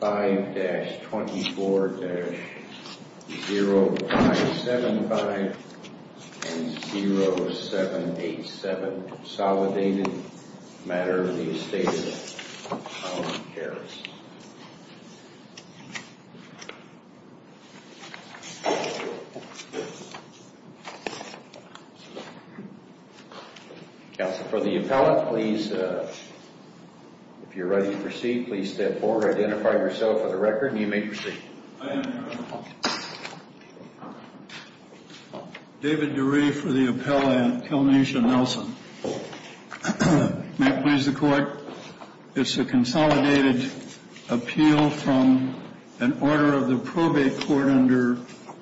5-24-0575 and 0787, consolidated matter of the estate of Howard Harris. David DeRee for the appellant, Kelnesha Nelson. May it please the court. It's a consolidated appeal from an order of the probate court under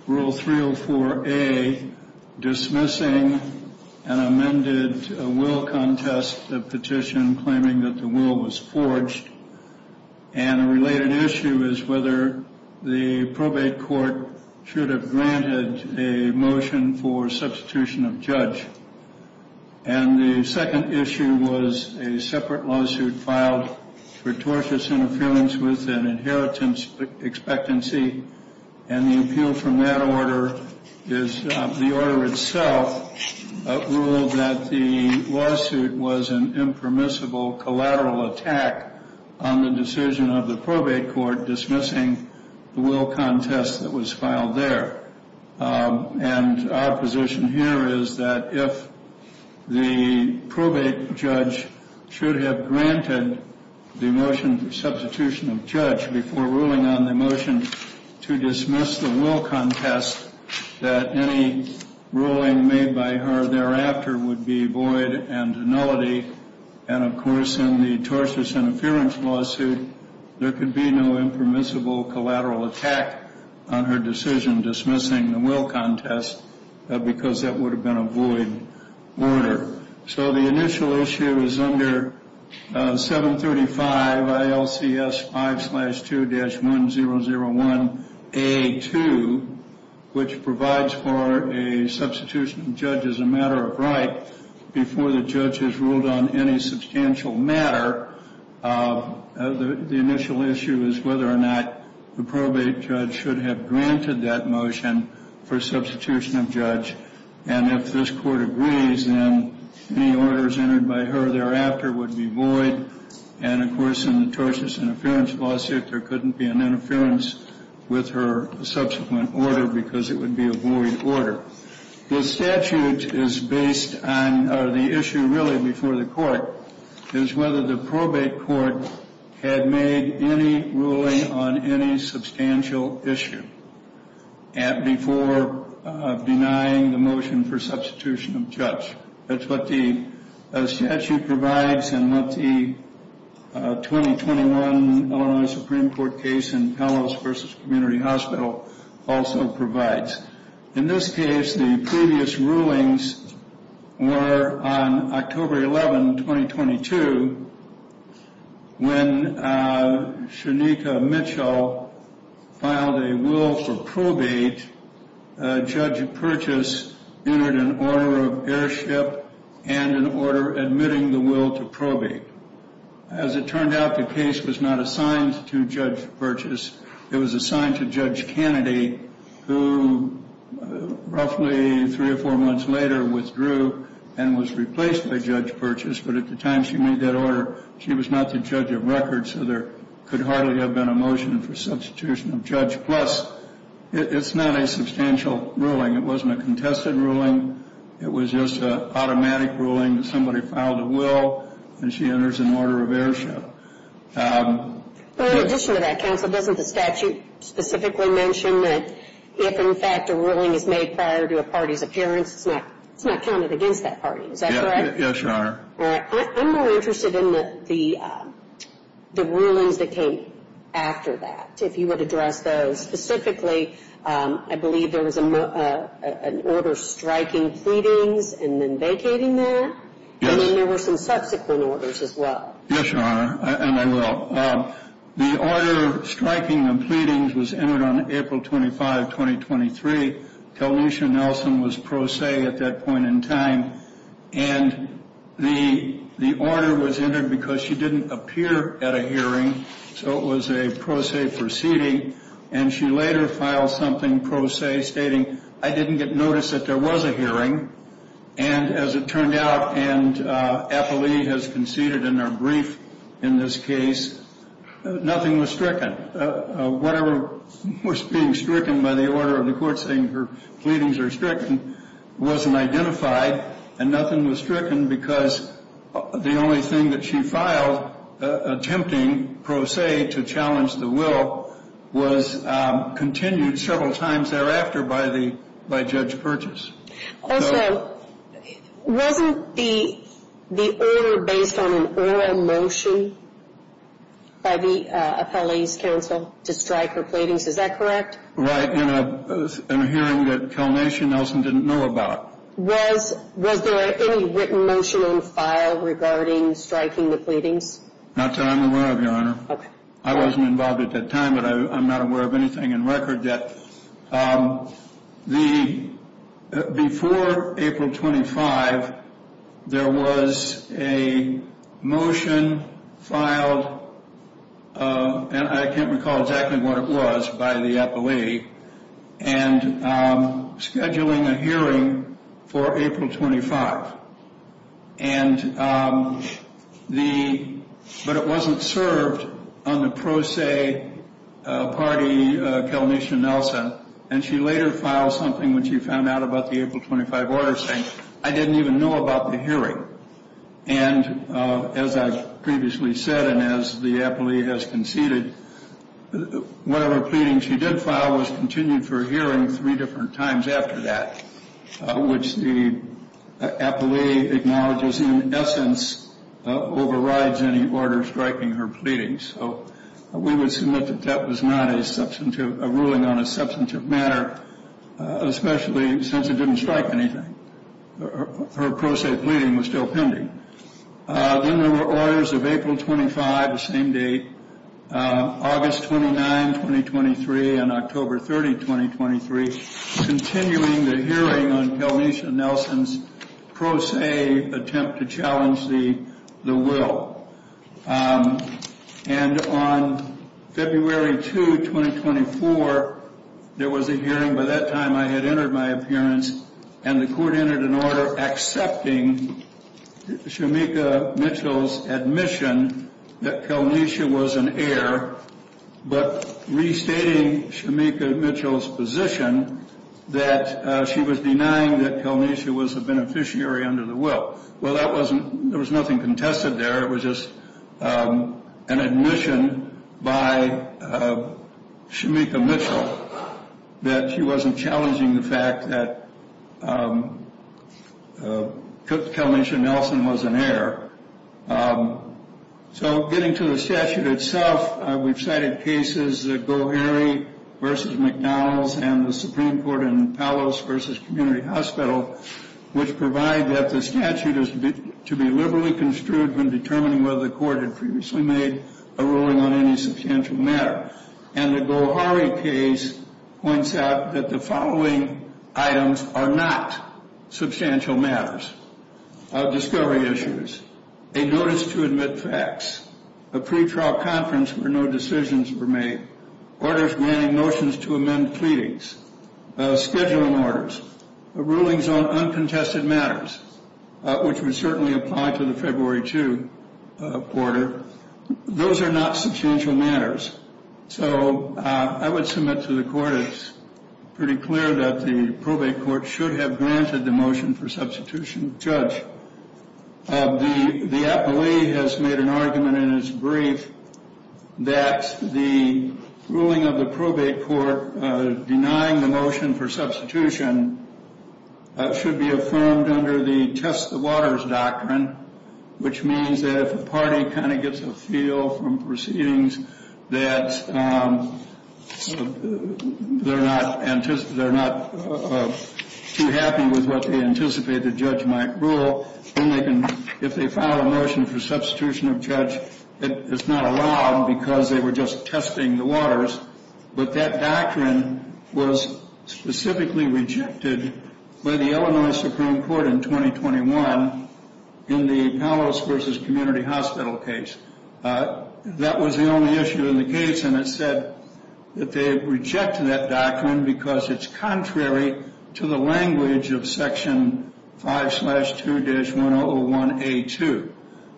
Rule 304A, dismissing an amended will contest, a petition claiming that the will was forged. And a related issue is whether the probate court should have granted a motion for substitution of judge. And the second issue was a separate lawsuit filed for tortious interference with an inheritance expectancy. And the appeal from that order is the order itself ruled that the lawsuit was an impermissible collateral attack on the decision of the probate court dismissing the will contest that was filed there. And our position here is that if the probate judge should have granted the motion for substitution of judge before ruling on the motion to dismiss the will contest, that any ruling made by her thereafter would be void and nullity. And of course, in the tortious interference lawsuit, there could be no impermissible collateral attack on her decision dismissing the will contest because that would have been a void order. So the initial issue is under 735 ILCS 5-2-1001A2, which provides for a substitution of judge as a matter of right before the judge has ruled on any substantial matter. The initial issue is whether or not the probate judge should have granted that motion for substitution of judge. And if this Court agrees, then any orders entered by her thereafter would be void. And of course, in the tortious interference lawsuit, there couldn't be an interference with her subsequent order because it would be a void order. The statute is based on the issue really before the court is whether the probate court had made any ruling on any substantial issue before denying the motion for substitution of judge. That's what the statute provides and what the 2021 Illinois Supreme Court case in Pellos v. Community Hospital also provides. In this case, the previous rulings were on October 11, 2022, when Shanika Mitchell filed a will for probate. Judge Purchase entered an order of airship and an order admitting the will to probate. As it turned out, the case was not assigned to Judge Purchase. It was assigned to Judge Kennedy, who roughly three or four months later withdrew and was replaced by Judge Purchase. But at the time she made that order, she was not the judge of record, so there could hardly have been a motion for substitution of judge. Plus, it's not a substantial ruling. It wasn't a contested ruling. It was just an automatic ruling that somebody filed a will and she enters an order of airship. Well, in addition to that, Counsel, doesn't the statute specifically mention that if, in fact, a ruling is made prior to a party's appearance, it's not counted against that party? Is that correct? Yes, Your Honor. All right. I'm more interested in the rulings that came after that, if you would address those. Specifically, I believe there was an order striking pleadings and then vacating that. Yes. And then there were some subsequent orders as well. Yes, Your Honor. And I will. The order striking the pleadings was entered on April 25, 2023. Taliesha Nelson was pro se at that point in time. And the order was entered because she didn't appear at a hearing. So it was a pro se proceeding. And she later filed something pro se stating, I didn't get notice that there was a hearing. And as it turned out, and APLE has conceded in their brief in this case, nothing was stricken. Whatever was being stricken by the order of the court saying her pleadings are stricken wasn't identified. And nothing was stricken because the only thing that she filed attempting pro se to challenge the will was continued several times thereafter by Judge Purchase. Also, wasn't the order based on an oral motion by the appellee's counsel to strike her pleadings? Is that correct? Right. In a hearing that Taliesha Nelson didn't know about. Was there any written motion on file regarding striking the pleadings? Not that I'm aware of, Your Honor. Okay. I wasn't involved at that time, but I'm not aware of anything in record yet. But before April 25, there was a motion filed. And I can't recall exactly what it was by the appellee. And scheduling a hearing for April 25. And the, but it wasn't served on the pro se party, Taliesha Nelson. And she later filed something when she found out about the April 25 order saying, I didn't even know about the hearing. And as I previously said, and as the appellee has conceded, whatever pleading she did file was continued for a hearing three different times after that. Which the appellee acknowledges in essence overrides any order striking her pleadings. So we would submit that that was not a ruling on a substantive matter. Especially since it didn't strike anything. Her pro se pleading was still pending. Then there were orders of April 25, the same date, August 29, 2023 and October 30, 2023. Continuing the hearing on Taliesha Nelson's pro se attempt to challenge the will. And on February 2, 2024, there was a hearing. By that time I had entered my appearance. And the court entered an order accepting Shamika Mitchell's admission that Taliesha was an heir. But restating Shamika Mitchell's position that she was denying that Taliesha was a beneficiary under the will. Well, that wasn't, there was nothing contested there. It was just an admission by Shamika Mitchell that she wasn't challenging the fact that Taliesha Nelson was an heir. So getting to the statute itself, we've cited cases, Gohari v. McDonald's and the Supreme Court in Palos v. Community Hospital, which provide that the statute is to be liberally construed when determining whether the court had previously made a ruling on any substantial matter. And the Gohari case points out that the following items are not substantial matters. Discovery issues. A notice to admit facts. A pretrial conference where no decisions were made. Orders granting notions to amend pleadings. Scheduling orders. Rulings on uncontested matters, which would certainly apply to the February 2 quarter. Those are not substantial matters. So I would submit to the court it's pretty clear that the probate court should have granted the motion for substitution. Judge, the appellee has made an argument in his brief that the ruling of the probate court denying the motion for substitution should be affirmed under the test the waters doctrine, which means that if a party kind of gets a feel from proceedings that they're not too happy with what they anticipate the judge might rule, then if they file a motion for substitution of judge, it's not allowed because they were just testing the waters. But that doctrine was specifically rejected by the Illinois Supreme Court in 2021 in the Palos v. Community Hospital case. That was the only issue in the case. And it said that they rejected that doctrine because it's contrary to the language of section 5 slash 2 dash 101 A2.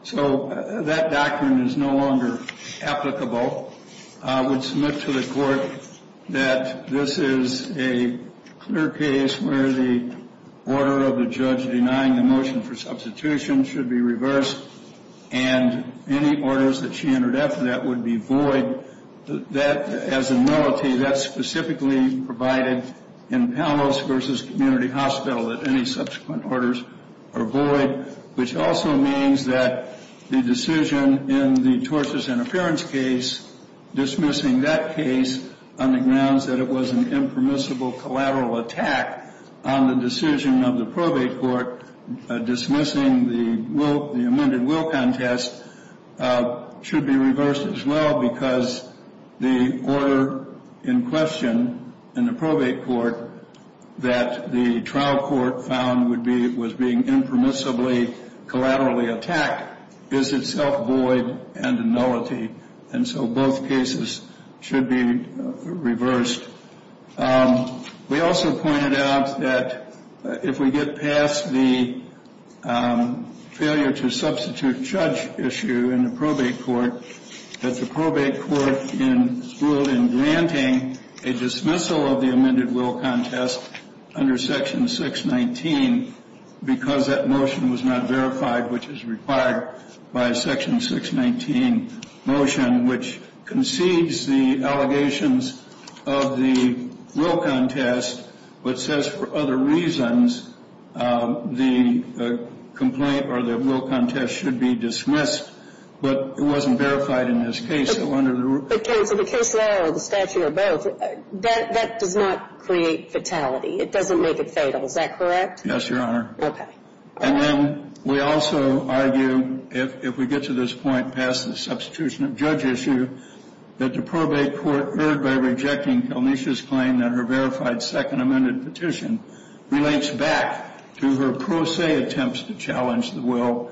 So that doctrine is no longer applicable. I would submit to the court that this is a clear case where the order of the judge denying the motion for substitution should be reversed and any orders that she entered after that would be void. That, as a nullity, that's specifically provided in Palos v. Community Hospital that any subsequent orders are void, which also means that the decision in the tortious interference case dismissing that case on the grounds that it was an impermissible collateral attack on the decision of the probate court dismissing the will, the amended will contest should be reversed as well because the order in question in the probate court that the trial court found would be, was being impermissibly collaterally attacked is itself void and a nullity. And so both cases should be reversed. We also pointed out that if we get past the failure to substitute judge issue in the probate court, that the probate court in granting a dismissal of the amended will contest under section 619 because that motion was not verified, which is required by section 619 motion, which concedes the allegations of the will contest, but says for other reasons the complaint or the will contest should be dismissed. But it wasn't verified in this case. So under the rule. But, counsel, the case law or the statute or both, that does not create fatality. It doesn't make it fatal. Is that correct? Yes, Your Honor. Okay. And then we also argue, if we get to this point past the substitution of judge issue, that the probate court, erred by rejecting Kelnisha's claim that her verified second amended petition relates back to her pro se attempts to challenge the will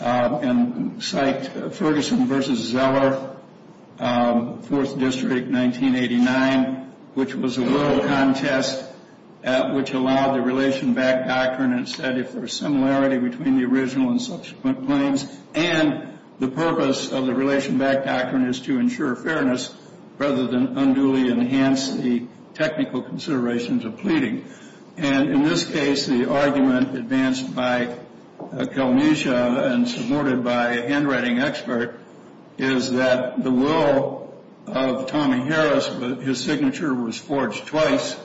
and cite Ferguson v. Zeller, 4th District, 1989, which was a will contest which allowed the relation back doctrine and said if there's similarity between the original and subsequent claims and the purpose of the relation back doctrine is to ensure fairness rather than unduly enhance the technical considerations of pleading. And in this case, the argument advanced by Kelnisha and supported by a handwriting expert is that the will of Tommy Harris, his signature was forged twice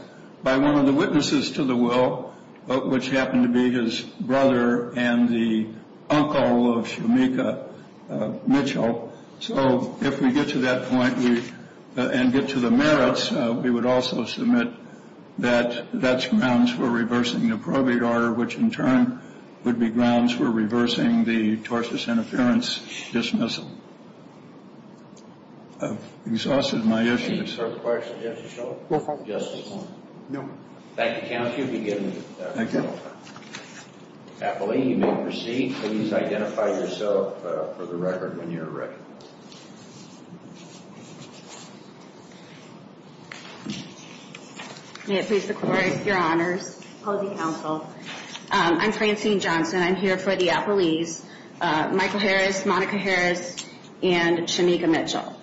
by one of the witnesses to the will, which happened to be his brother and the uncle of Shamika Mitchell. So if we get to that point and get to the merits, we would also submit that that's grounds for reversing the probate order, which in turn would be grounds for reversing the torsus interference dismissal. I've exhausted my issues. Any further questions, Judge O'Shaughnessy? No, sir. Just this one. No. Thank you, counsel. You've been given the floor. Appellee, you may proceed. Please identify yourself for the record when you're ready. May it please the court, your honors, apology counsel. I'm Francine Johnson. I'm here for the appellees, Michael Harris, Monica Harris, and Shamika Mitchell.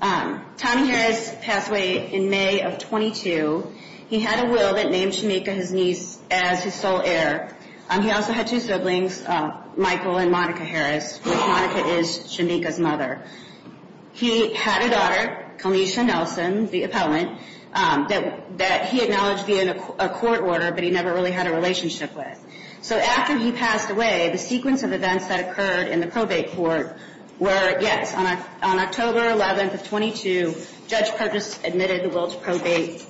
Tommy Harris passed away in May of 22. He had a will that named Shamika, his niece, as his sole heir. He also had two siblings, Michael and Monica Harris. Monica is Shamika's mother. He had a daughter, Kalisha Nelson, the appellant, that he acknowledged via a court order, but he never really had a relationship with. So after he passed away, the sequence of events that occurred in the probate court were, yes, on October 11th of 22, Judge Purchase admitted the will to probate.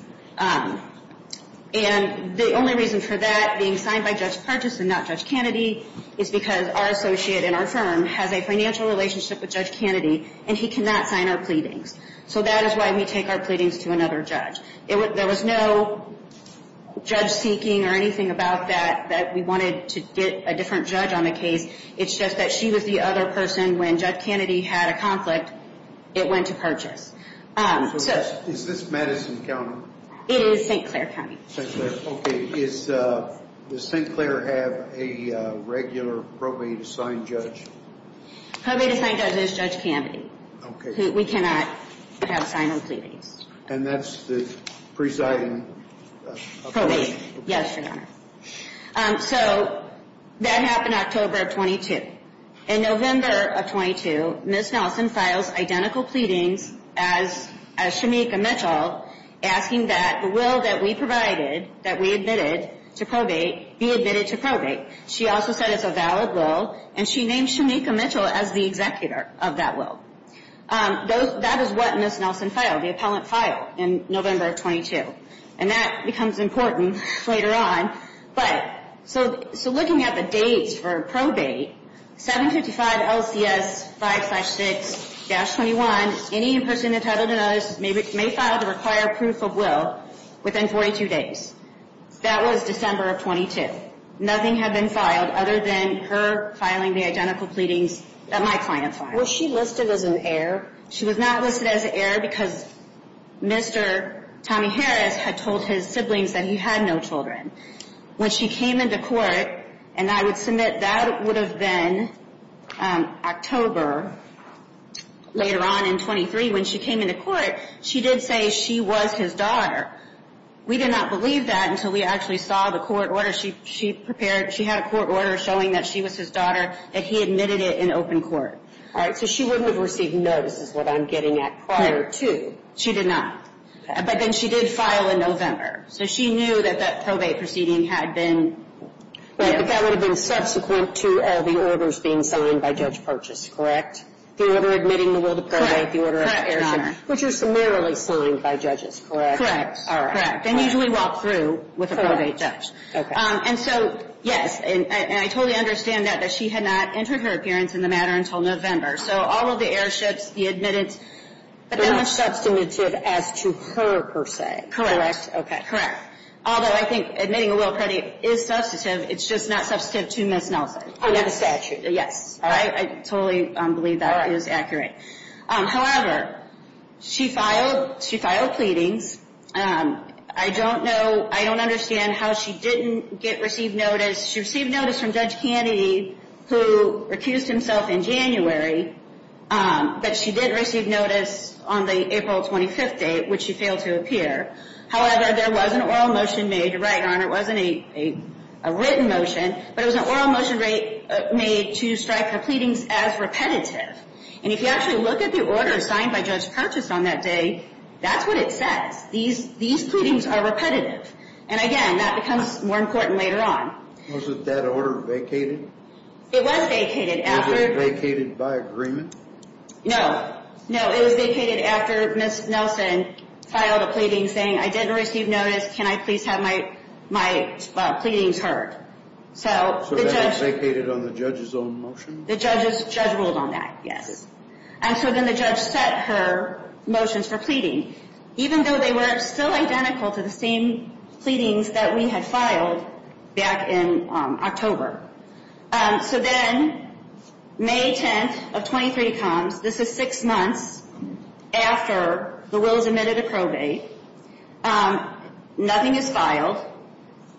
And the only reason for that, being signed by Judge Purchase and not Judge Kennedy, is because our associate in our firm has a financial relationship with Judge Kennedy, and he cannot sign our pleadings. So that is why we take our pleadings to another judge. There was no judge-seeking or anything about that, that we wanted to get a different judge on the case. It's just that she was the other person when Judge Kennedy had a conflict, it went to Purchase. Is this Madison County? It is St. Clair County. St. Clair. Okay. Does St. Clair have a regular probate-assigned judge? Probate-assigned judge is Judge Kennedy. We cannot have a sign on pleadings. And that's the presiding appellation? Yes, Your Honor. So that happened October of 22. In November of 22, Ms. Nelson files identical pleadings as Shemeika Mitchell, asking that the will that we provided, that we admitted to probate, be admitted to probate. She also said it's a valid will, and she named Shemeika Mitchell as the executor of that will. That is what Ms. Nelson filed, the appellant filed in November of 22. And that becomes important later on. But so looking at the dates for probate, 755 LCS 5-6-21, any person entitled to notice may file the required proof of will within 42 days. That was December of 22. Nothing had been filed other than her filing the identical pleadings that my client filed. Was she listed as an heir? She was not listed as an heir because Mr. Tommy Harris had told his siblings that he had no children. When she came into court, and I would submit that would have been October later on in 23, when she came into court, she did say she was his daughter. We did not believe that until we actually saw the court order she prepared. She had a court order showing that she was his daughter, and he admitted it in open court. All right. So she wouldn't have received notices that I'm getting at prior to. She did not. But then she did file in November. So she knew that that probate proceeding had been. Right. But that would have been subsequent to the orders being signed by Judge Purchase, correct? The order admitting the will to probate, the order of the heirship, which are summarily signed by judges, correct? Correct. Correct. They usually walk through with a probate judge. And so, yes, and I totally understand that she had not entered her appearance in the matter until November. So all of the heirships, he admitted. But not substantive as to her, per se. Correct. Okay. Correct. Although I think admitting a will predate is substantive. It's just not substantive to Miss Nelson. Under the statute. Yes. All right. I totally believe that is accurate. However, she filed. She filed pleadings. I don't know. I don't understand how she didn't get received notice. She received notice from Judge Kennedy, who recused himself in January. But she did receive notice on the April 25th date, which she failed to appear. However, there was an oral motion made to write on. It wasn't a written motion. But it was an oral motion made to strike her pleadings as repetitive. And if you actually look at the order signed by Judge Purchase on that day, that's what it says. These pleadings are repetitive. And again, that becomes more important later on. Was it that order vacated? It was vacated. Was it vacated by agreement? No. No, it was vacated after Miss Nelson filed a pleading saying, I didn't receive notice. Can I please have my my pleadings heard? So that was vacated on the judge's own motion? The judge ruled on that. Yes. And so then the judge set her motions for pleading, even though they were still identical to the same pleadings that we had filed back in October. So then May 10th of 23 comms. This is six months after the will is admitted to probate. Nothing is filed.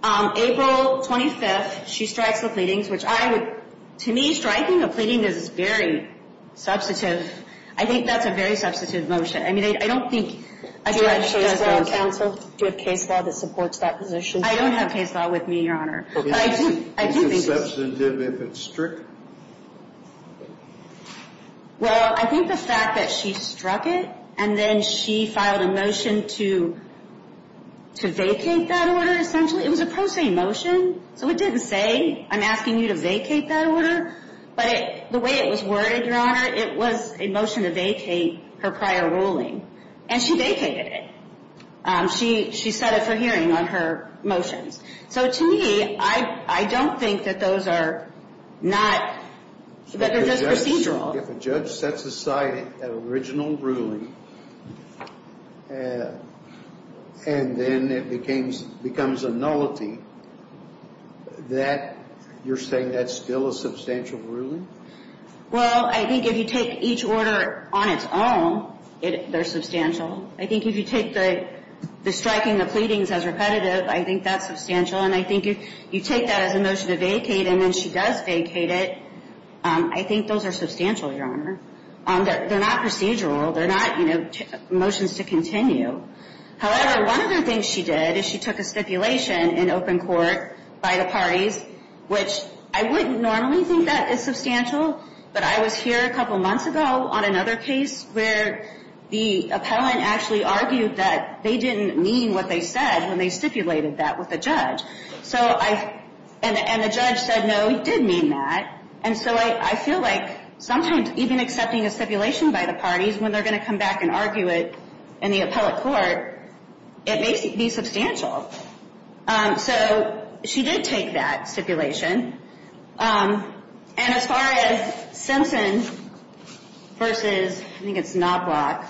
April 25th, she strikes the pleadings, which I would, to me, striking a pleading is very substantive. I think that's a very substantive motion. I mean, I don't think a judge does those. Do you have case law that supports that position? I don't have case law with me, Your Honor. I do think it's substantive if it's strict. Well, I think the fact that she struck it and then she filed a motion to vacate that order, essentially, it was a pro se motion. So it didn't say, I'm asking you to vacate that order. But the way it was worded, Your Honor, it was a motion to vacate her prior ruling. And she vacated it. She set it for hearing on her motions. So to me, I don't think that those are not, that it's procedural. If a judge sets aside an original ruling and then it becomes a nullity, that you're saying that's still a substantial ruling? Well, I think if you take each order on its own, they're substantial. I think if you take the striking the pleadings as repetitive, I think that's substantial. And I think if you take that as a motion to vacate and then she does vacate it, I think those are substantial, Your Honor. They're not procedural. They're not motions to continue. However, one of the things she did is she took a stipulation in open court by the parties, which I wouldn't normally think that is substantial. But I was here a couple months ago on another case where the appellant actually argued that they didn't mean what they said when they stipulated that with the judge. And the judge said, no, he did mean that. And so I feel like sometimes even accepting a stipulation by the parties, when they're going to come back and argue it in the appellate court, it may be substantial. So she did take that stipulation. And as far as Simpson versus, I think it's Knobloch,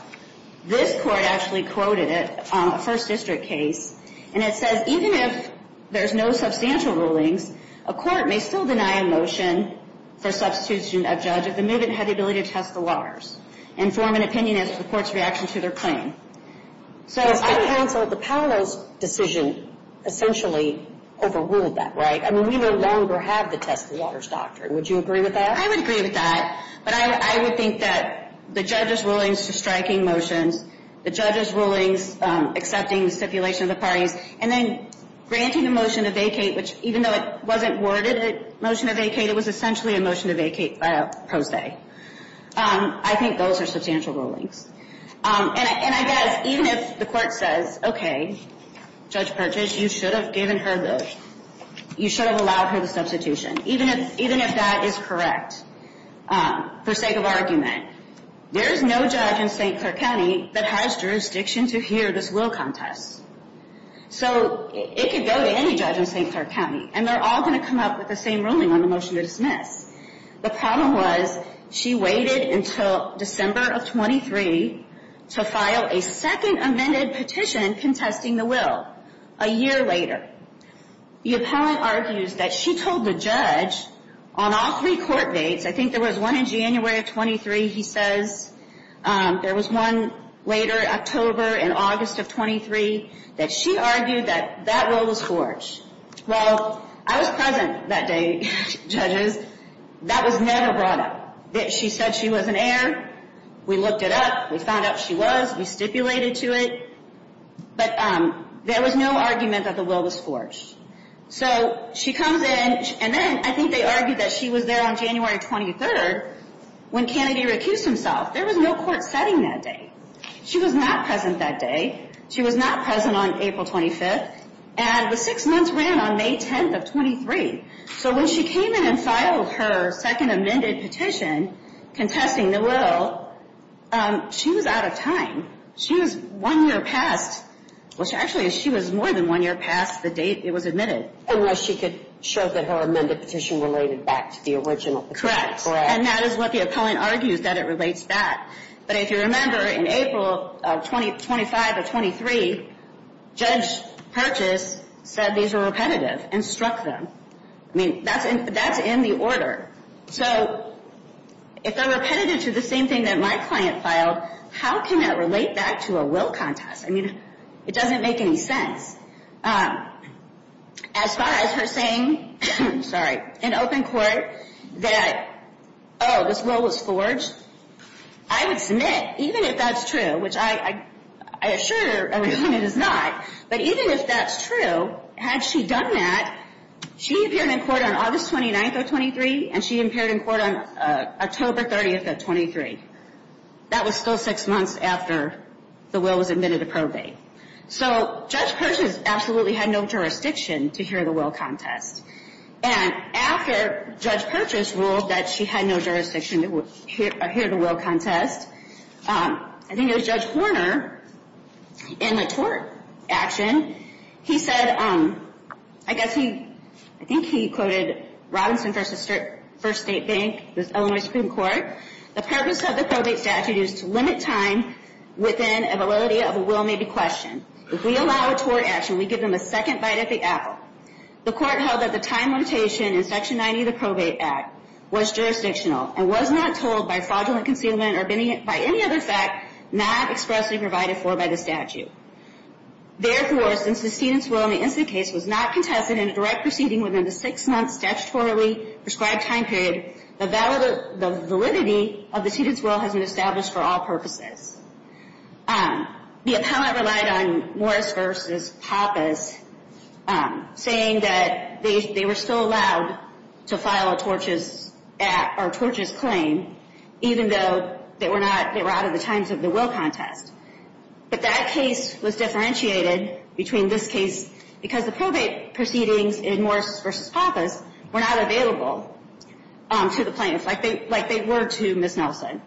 this court actually quoted it on a first district case. And it says, even if there's no substantial rulings, a court may still deny a motion for substitution of judge if the movement had the ability to test the waters and form an opinion as to the court's reaction to their claim. So I counseled the panel's decision essentially overruled that, right? We no longer have the test the waters doctrine. Would you agree with that? I would agree with that. But I would think that the judge's rulings to striking motions, the judge's rulings accepting the stipulation of the parties, and then granting a motion to vacate, which even though it wasn't worded a motion to vacate, it was essentially a motion to vacate pro se. I think those are substantial rulings. And I guess even if the court says, okay, Judge Purchase, you should have given her the, you should have allowed her the substitution. Even if that is correct, for sake of argument, there is no judge in St. Clair County that has jurisdiction to hear this will contest. So it could go to any judge in St. Clair County, and they're all going to come up with the same ruling on the motion to dismiss. The problem was she waited until December of 23 to file a second amended petition contesting the will. A year later, the appellant argues that she told the judge on all three court dates, I think there was one in January of 23, he says, there was one later, October and August of 23, that she argued that that will was forged. Well, I was present that day, judges. That was never brought up. She said she was an heir. We looked it up. We found out she was. We stipulated to it. But there was no argument that the will was forged. So she comes in, and then I think they argued that she was there on January 23, when Kennedy recused himself. There was no court setting that day. She was not present that day. She was not present on April 25, and the six months ran on May 10 of 23. So when she came in and filed her second amended petition contesting the will, she was out of time. She was one year past. Well, actually, she was more than one year past the date it was admitted. Unless she could show that her amended petition related back to the original. Correct. And that is what the appellant argues, that it relates back. But if you remember, in April of 25 or 23, Judge Purchase said these were repetitive and struck them. I mean, that's in the order. So if they're repetitive to the same thing that my client filed, how can that relate back to a will contest? I mean, it doesn't make any sense. As far as her saying, sorry, in open court that, oh, this will was forged. I would submit, even if that's true, which I assure everyone it is not, but even if that's true, had she done that, she appeared in court on August 29 or 23, and she appeared in court on October 30 of 23. That was still six months after the will was admitted to probate. So Judge Purchase absolutely had no jurisdiction to hear the will contest. And after Judge Purchase ruled that she had no jurisdiction to hear the will contest, I think it was Judge Horner, in the tort action, he said, I guess he, I think he quoted Robinson v. First State Bank, the Illinois Supreme Court. The purpose of the probate statute is to limit time within a validity of a will may be questioned. If we allow a tort action, we give them a second bite at the apple. The court held that the time limitation in Section 90 of the Probate Act was jurisdictional and was not told by fraudulent concealment or by any other fact not expressly provided for by the statute. Therefore, since the student's will in the incident case was not contested in a direct proceeding within the six-month statutorily prescribed time period, the validity of the student's will has been established for all purposes. The appellant relied on Morris v. Pappas saying that they were still allowed to file a tortious claim even though they were out of the times of the will contest. But that case was differentiated between this case because the probate proceedings in Morris v. Pappas were not available. To the plaintiff, like they were to Ms. Nelson.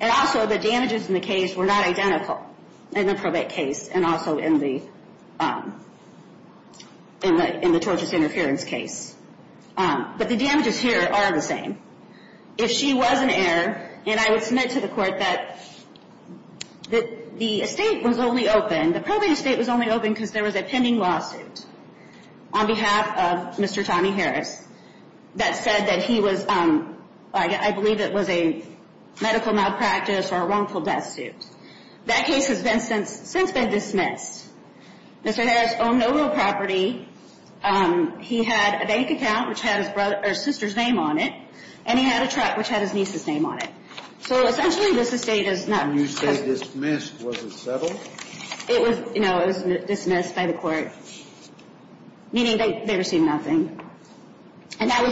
And also, the damages in the case were not identical in the probate case and also in the tortious interference case. But the damages here are the same. If she was an heir, and I would submit to the court that the estate was only open, the probate estate was only open because there was a pending lawsuit on behalf of Mr. Tommy Harris that said that he was, I believe it was a medical malpractice or a wrongful death suit. That case has since been dismissed. Mr. Harris owned no real property. He had a bank account which had his sister's name on it, and he had a truck which had his niece's name on it. So essentially, this estate is not- When you say dismissed, was it settled? It was dismissed by the court, meaning they received nothing. And that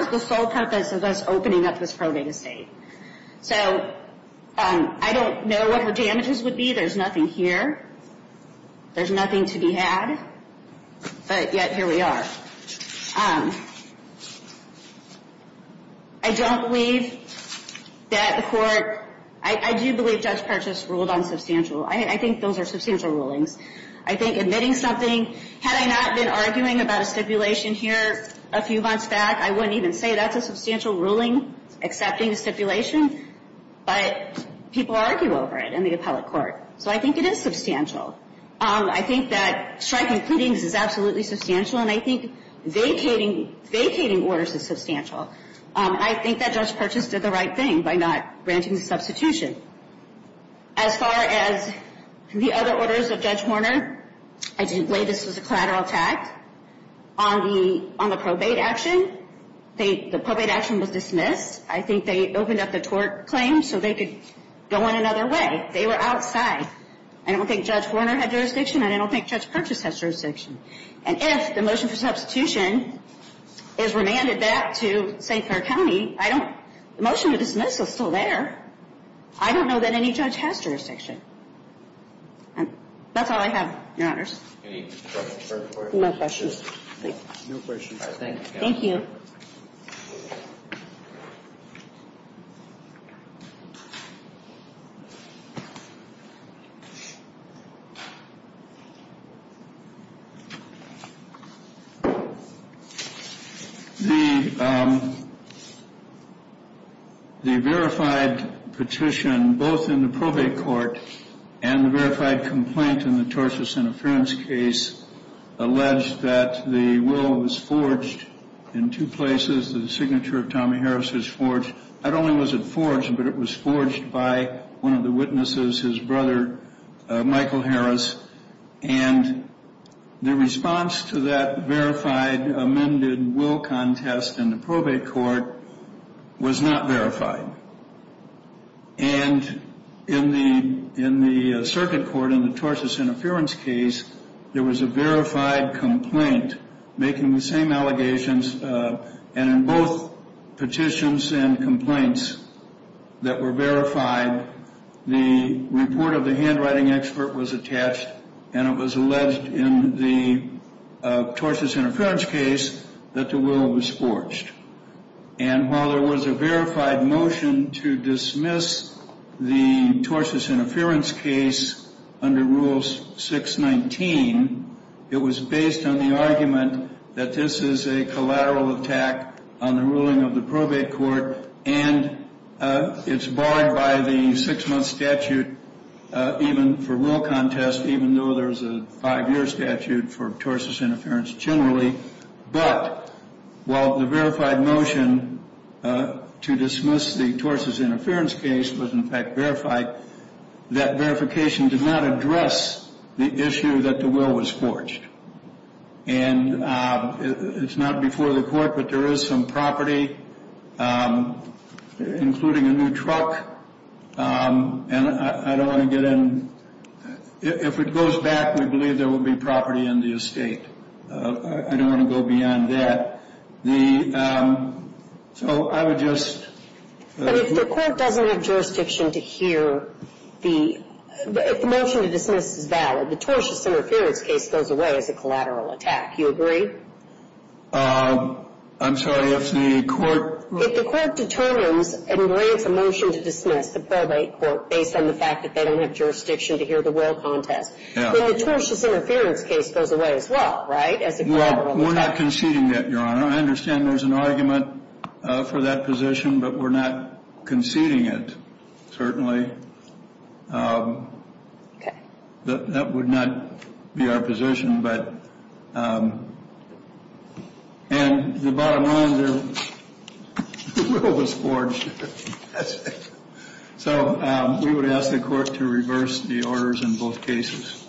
was the sole purpose of us opening up this probate estate. So I don't know what the damages would be. There's nothing here. There's nothing to be had. But yet, here we are. I don't believe that the court- I do believe Judge Parchas ruled on substantial. I think those are substantial rulings. I think admitting something- Had I not been arguing about a stipulation here a few months back, I wouldn't even say that's a substantial ruling, accepting a stipulation. But people argue over it in the appellate court. So I think it is substantial. I think that striking pleadings is absolutely substantial, and I think vacating orders is substantial. I think that Judge Parchas did the right thing by not granting the substitution. As far as the other orders of Judge Horner, I do believe this was a collateral attack. On the probate action, the probate action was dismissed. I think they opened up the tort claim so they could go in another way. They were outside. I don't think Judge Horner had jurisdiction, and I don't think Judge Parchas has jurisdiction. And if the motion for substitution is remanded back to St. Clair County, I don't- The motion to dismiss is still there. I don't know that any judge has jurisdiction. That's all I have, Your Honors. Any questions for her? No questions. No questions. All right, thank you, Counsel. Thank you. The verified petition, both in the probate court and the verified complaint in the tortious is forged. Not only was it forged, but it was forged by one of the witnesses, his brother, Michael Harris. And the response to that verified amended will contest in the probate court was not verified. And in the circuit court, in the tortious interference case, there was a verified complaint making the same allegations. And in both petitions and complaints that were verified, the report of the handwriting expert was attached, and it was alleged in the tortious interference case that the will was forged. And while there was a verified motion to dismiss the tortious interference case under Rule 619, it was based on the argument that this is a collateral attack on the ruling of the probate court, and it's barred by the six-month statute, even for will contest, even though there's a five-year statute for tortious interference generally. But while the verified motion to dismiss the tortious interference case was, in fact, verified, that verification did not address the issue that the will was forged. And it's not before the court, but there is some property, including a new truck. And I don't want to get in. If it goes back, we believe there will be property in the estate. I don't want to go beyond that. So I would just... But if the court doesn't have jurisdiction to hear the... If the motion to dismiss is valid, the tortious interference case goes away as a collateral attack. You agree? I'm sorry, if the court... If the court determines and grants a motion to dismiss the probate court based on the fact that they don't have jurisdiction to hear the will contest, then the tortious interference case goes away as well, right? As a collateral attack. We're not conceding that, Your Honor. I understand there's an argument for that position, but we're not conceding it, certainly. That would not be our position, but... And the bottom line there, the will was forged. So we would ask the court to reverse the orders in both cases.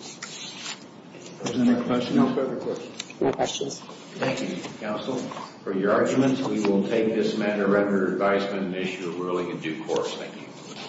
Is there any further questions? No questions. Thank you, counsel, for your arguments. We will take this matter under advisement and issue a ruling in due course. Thank you.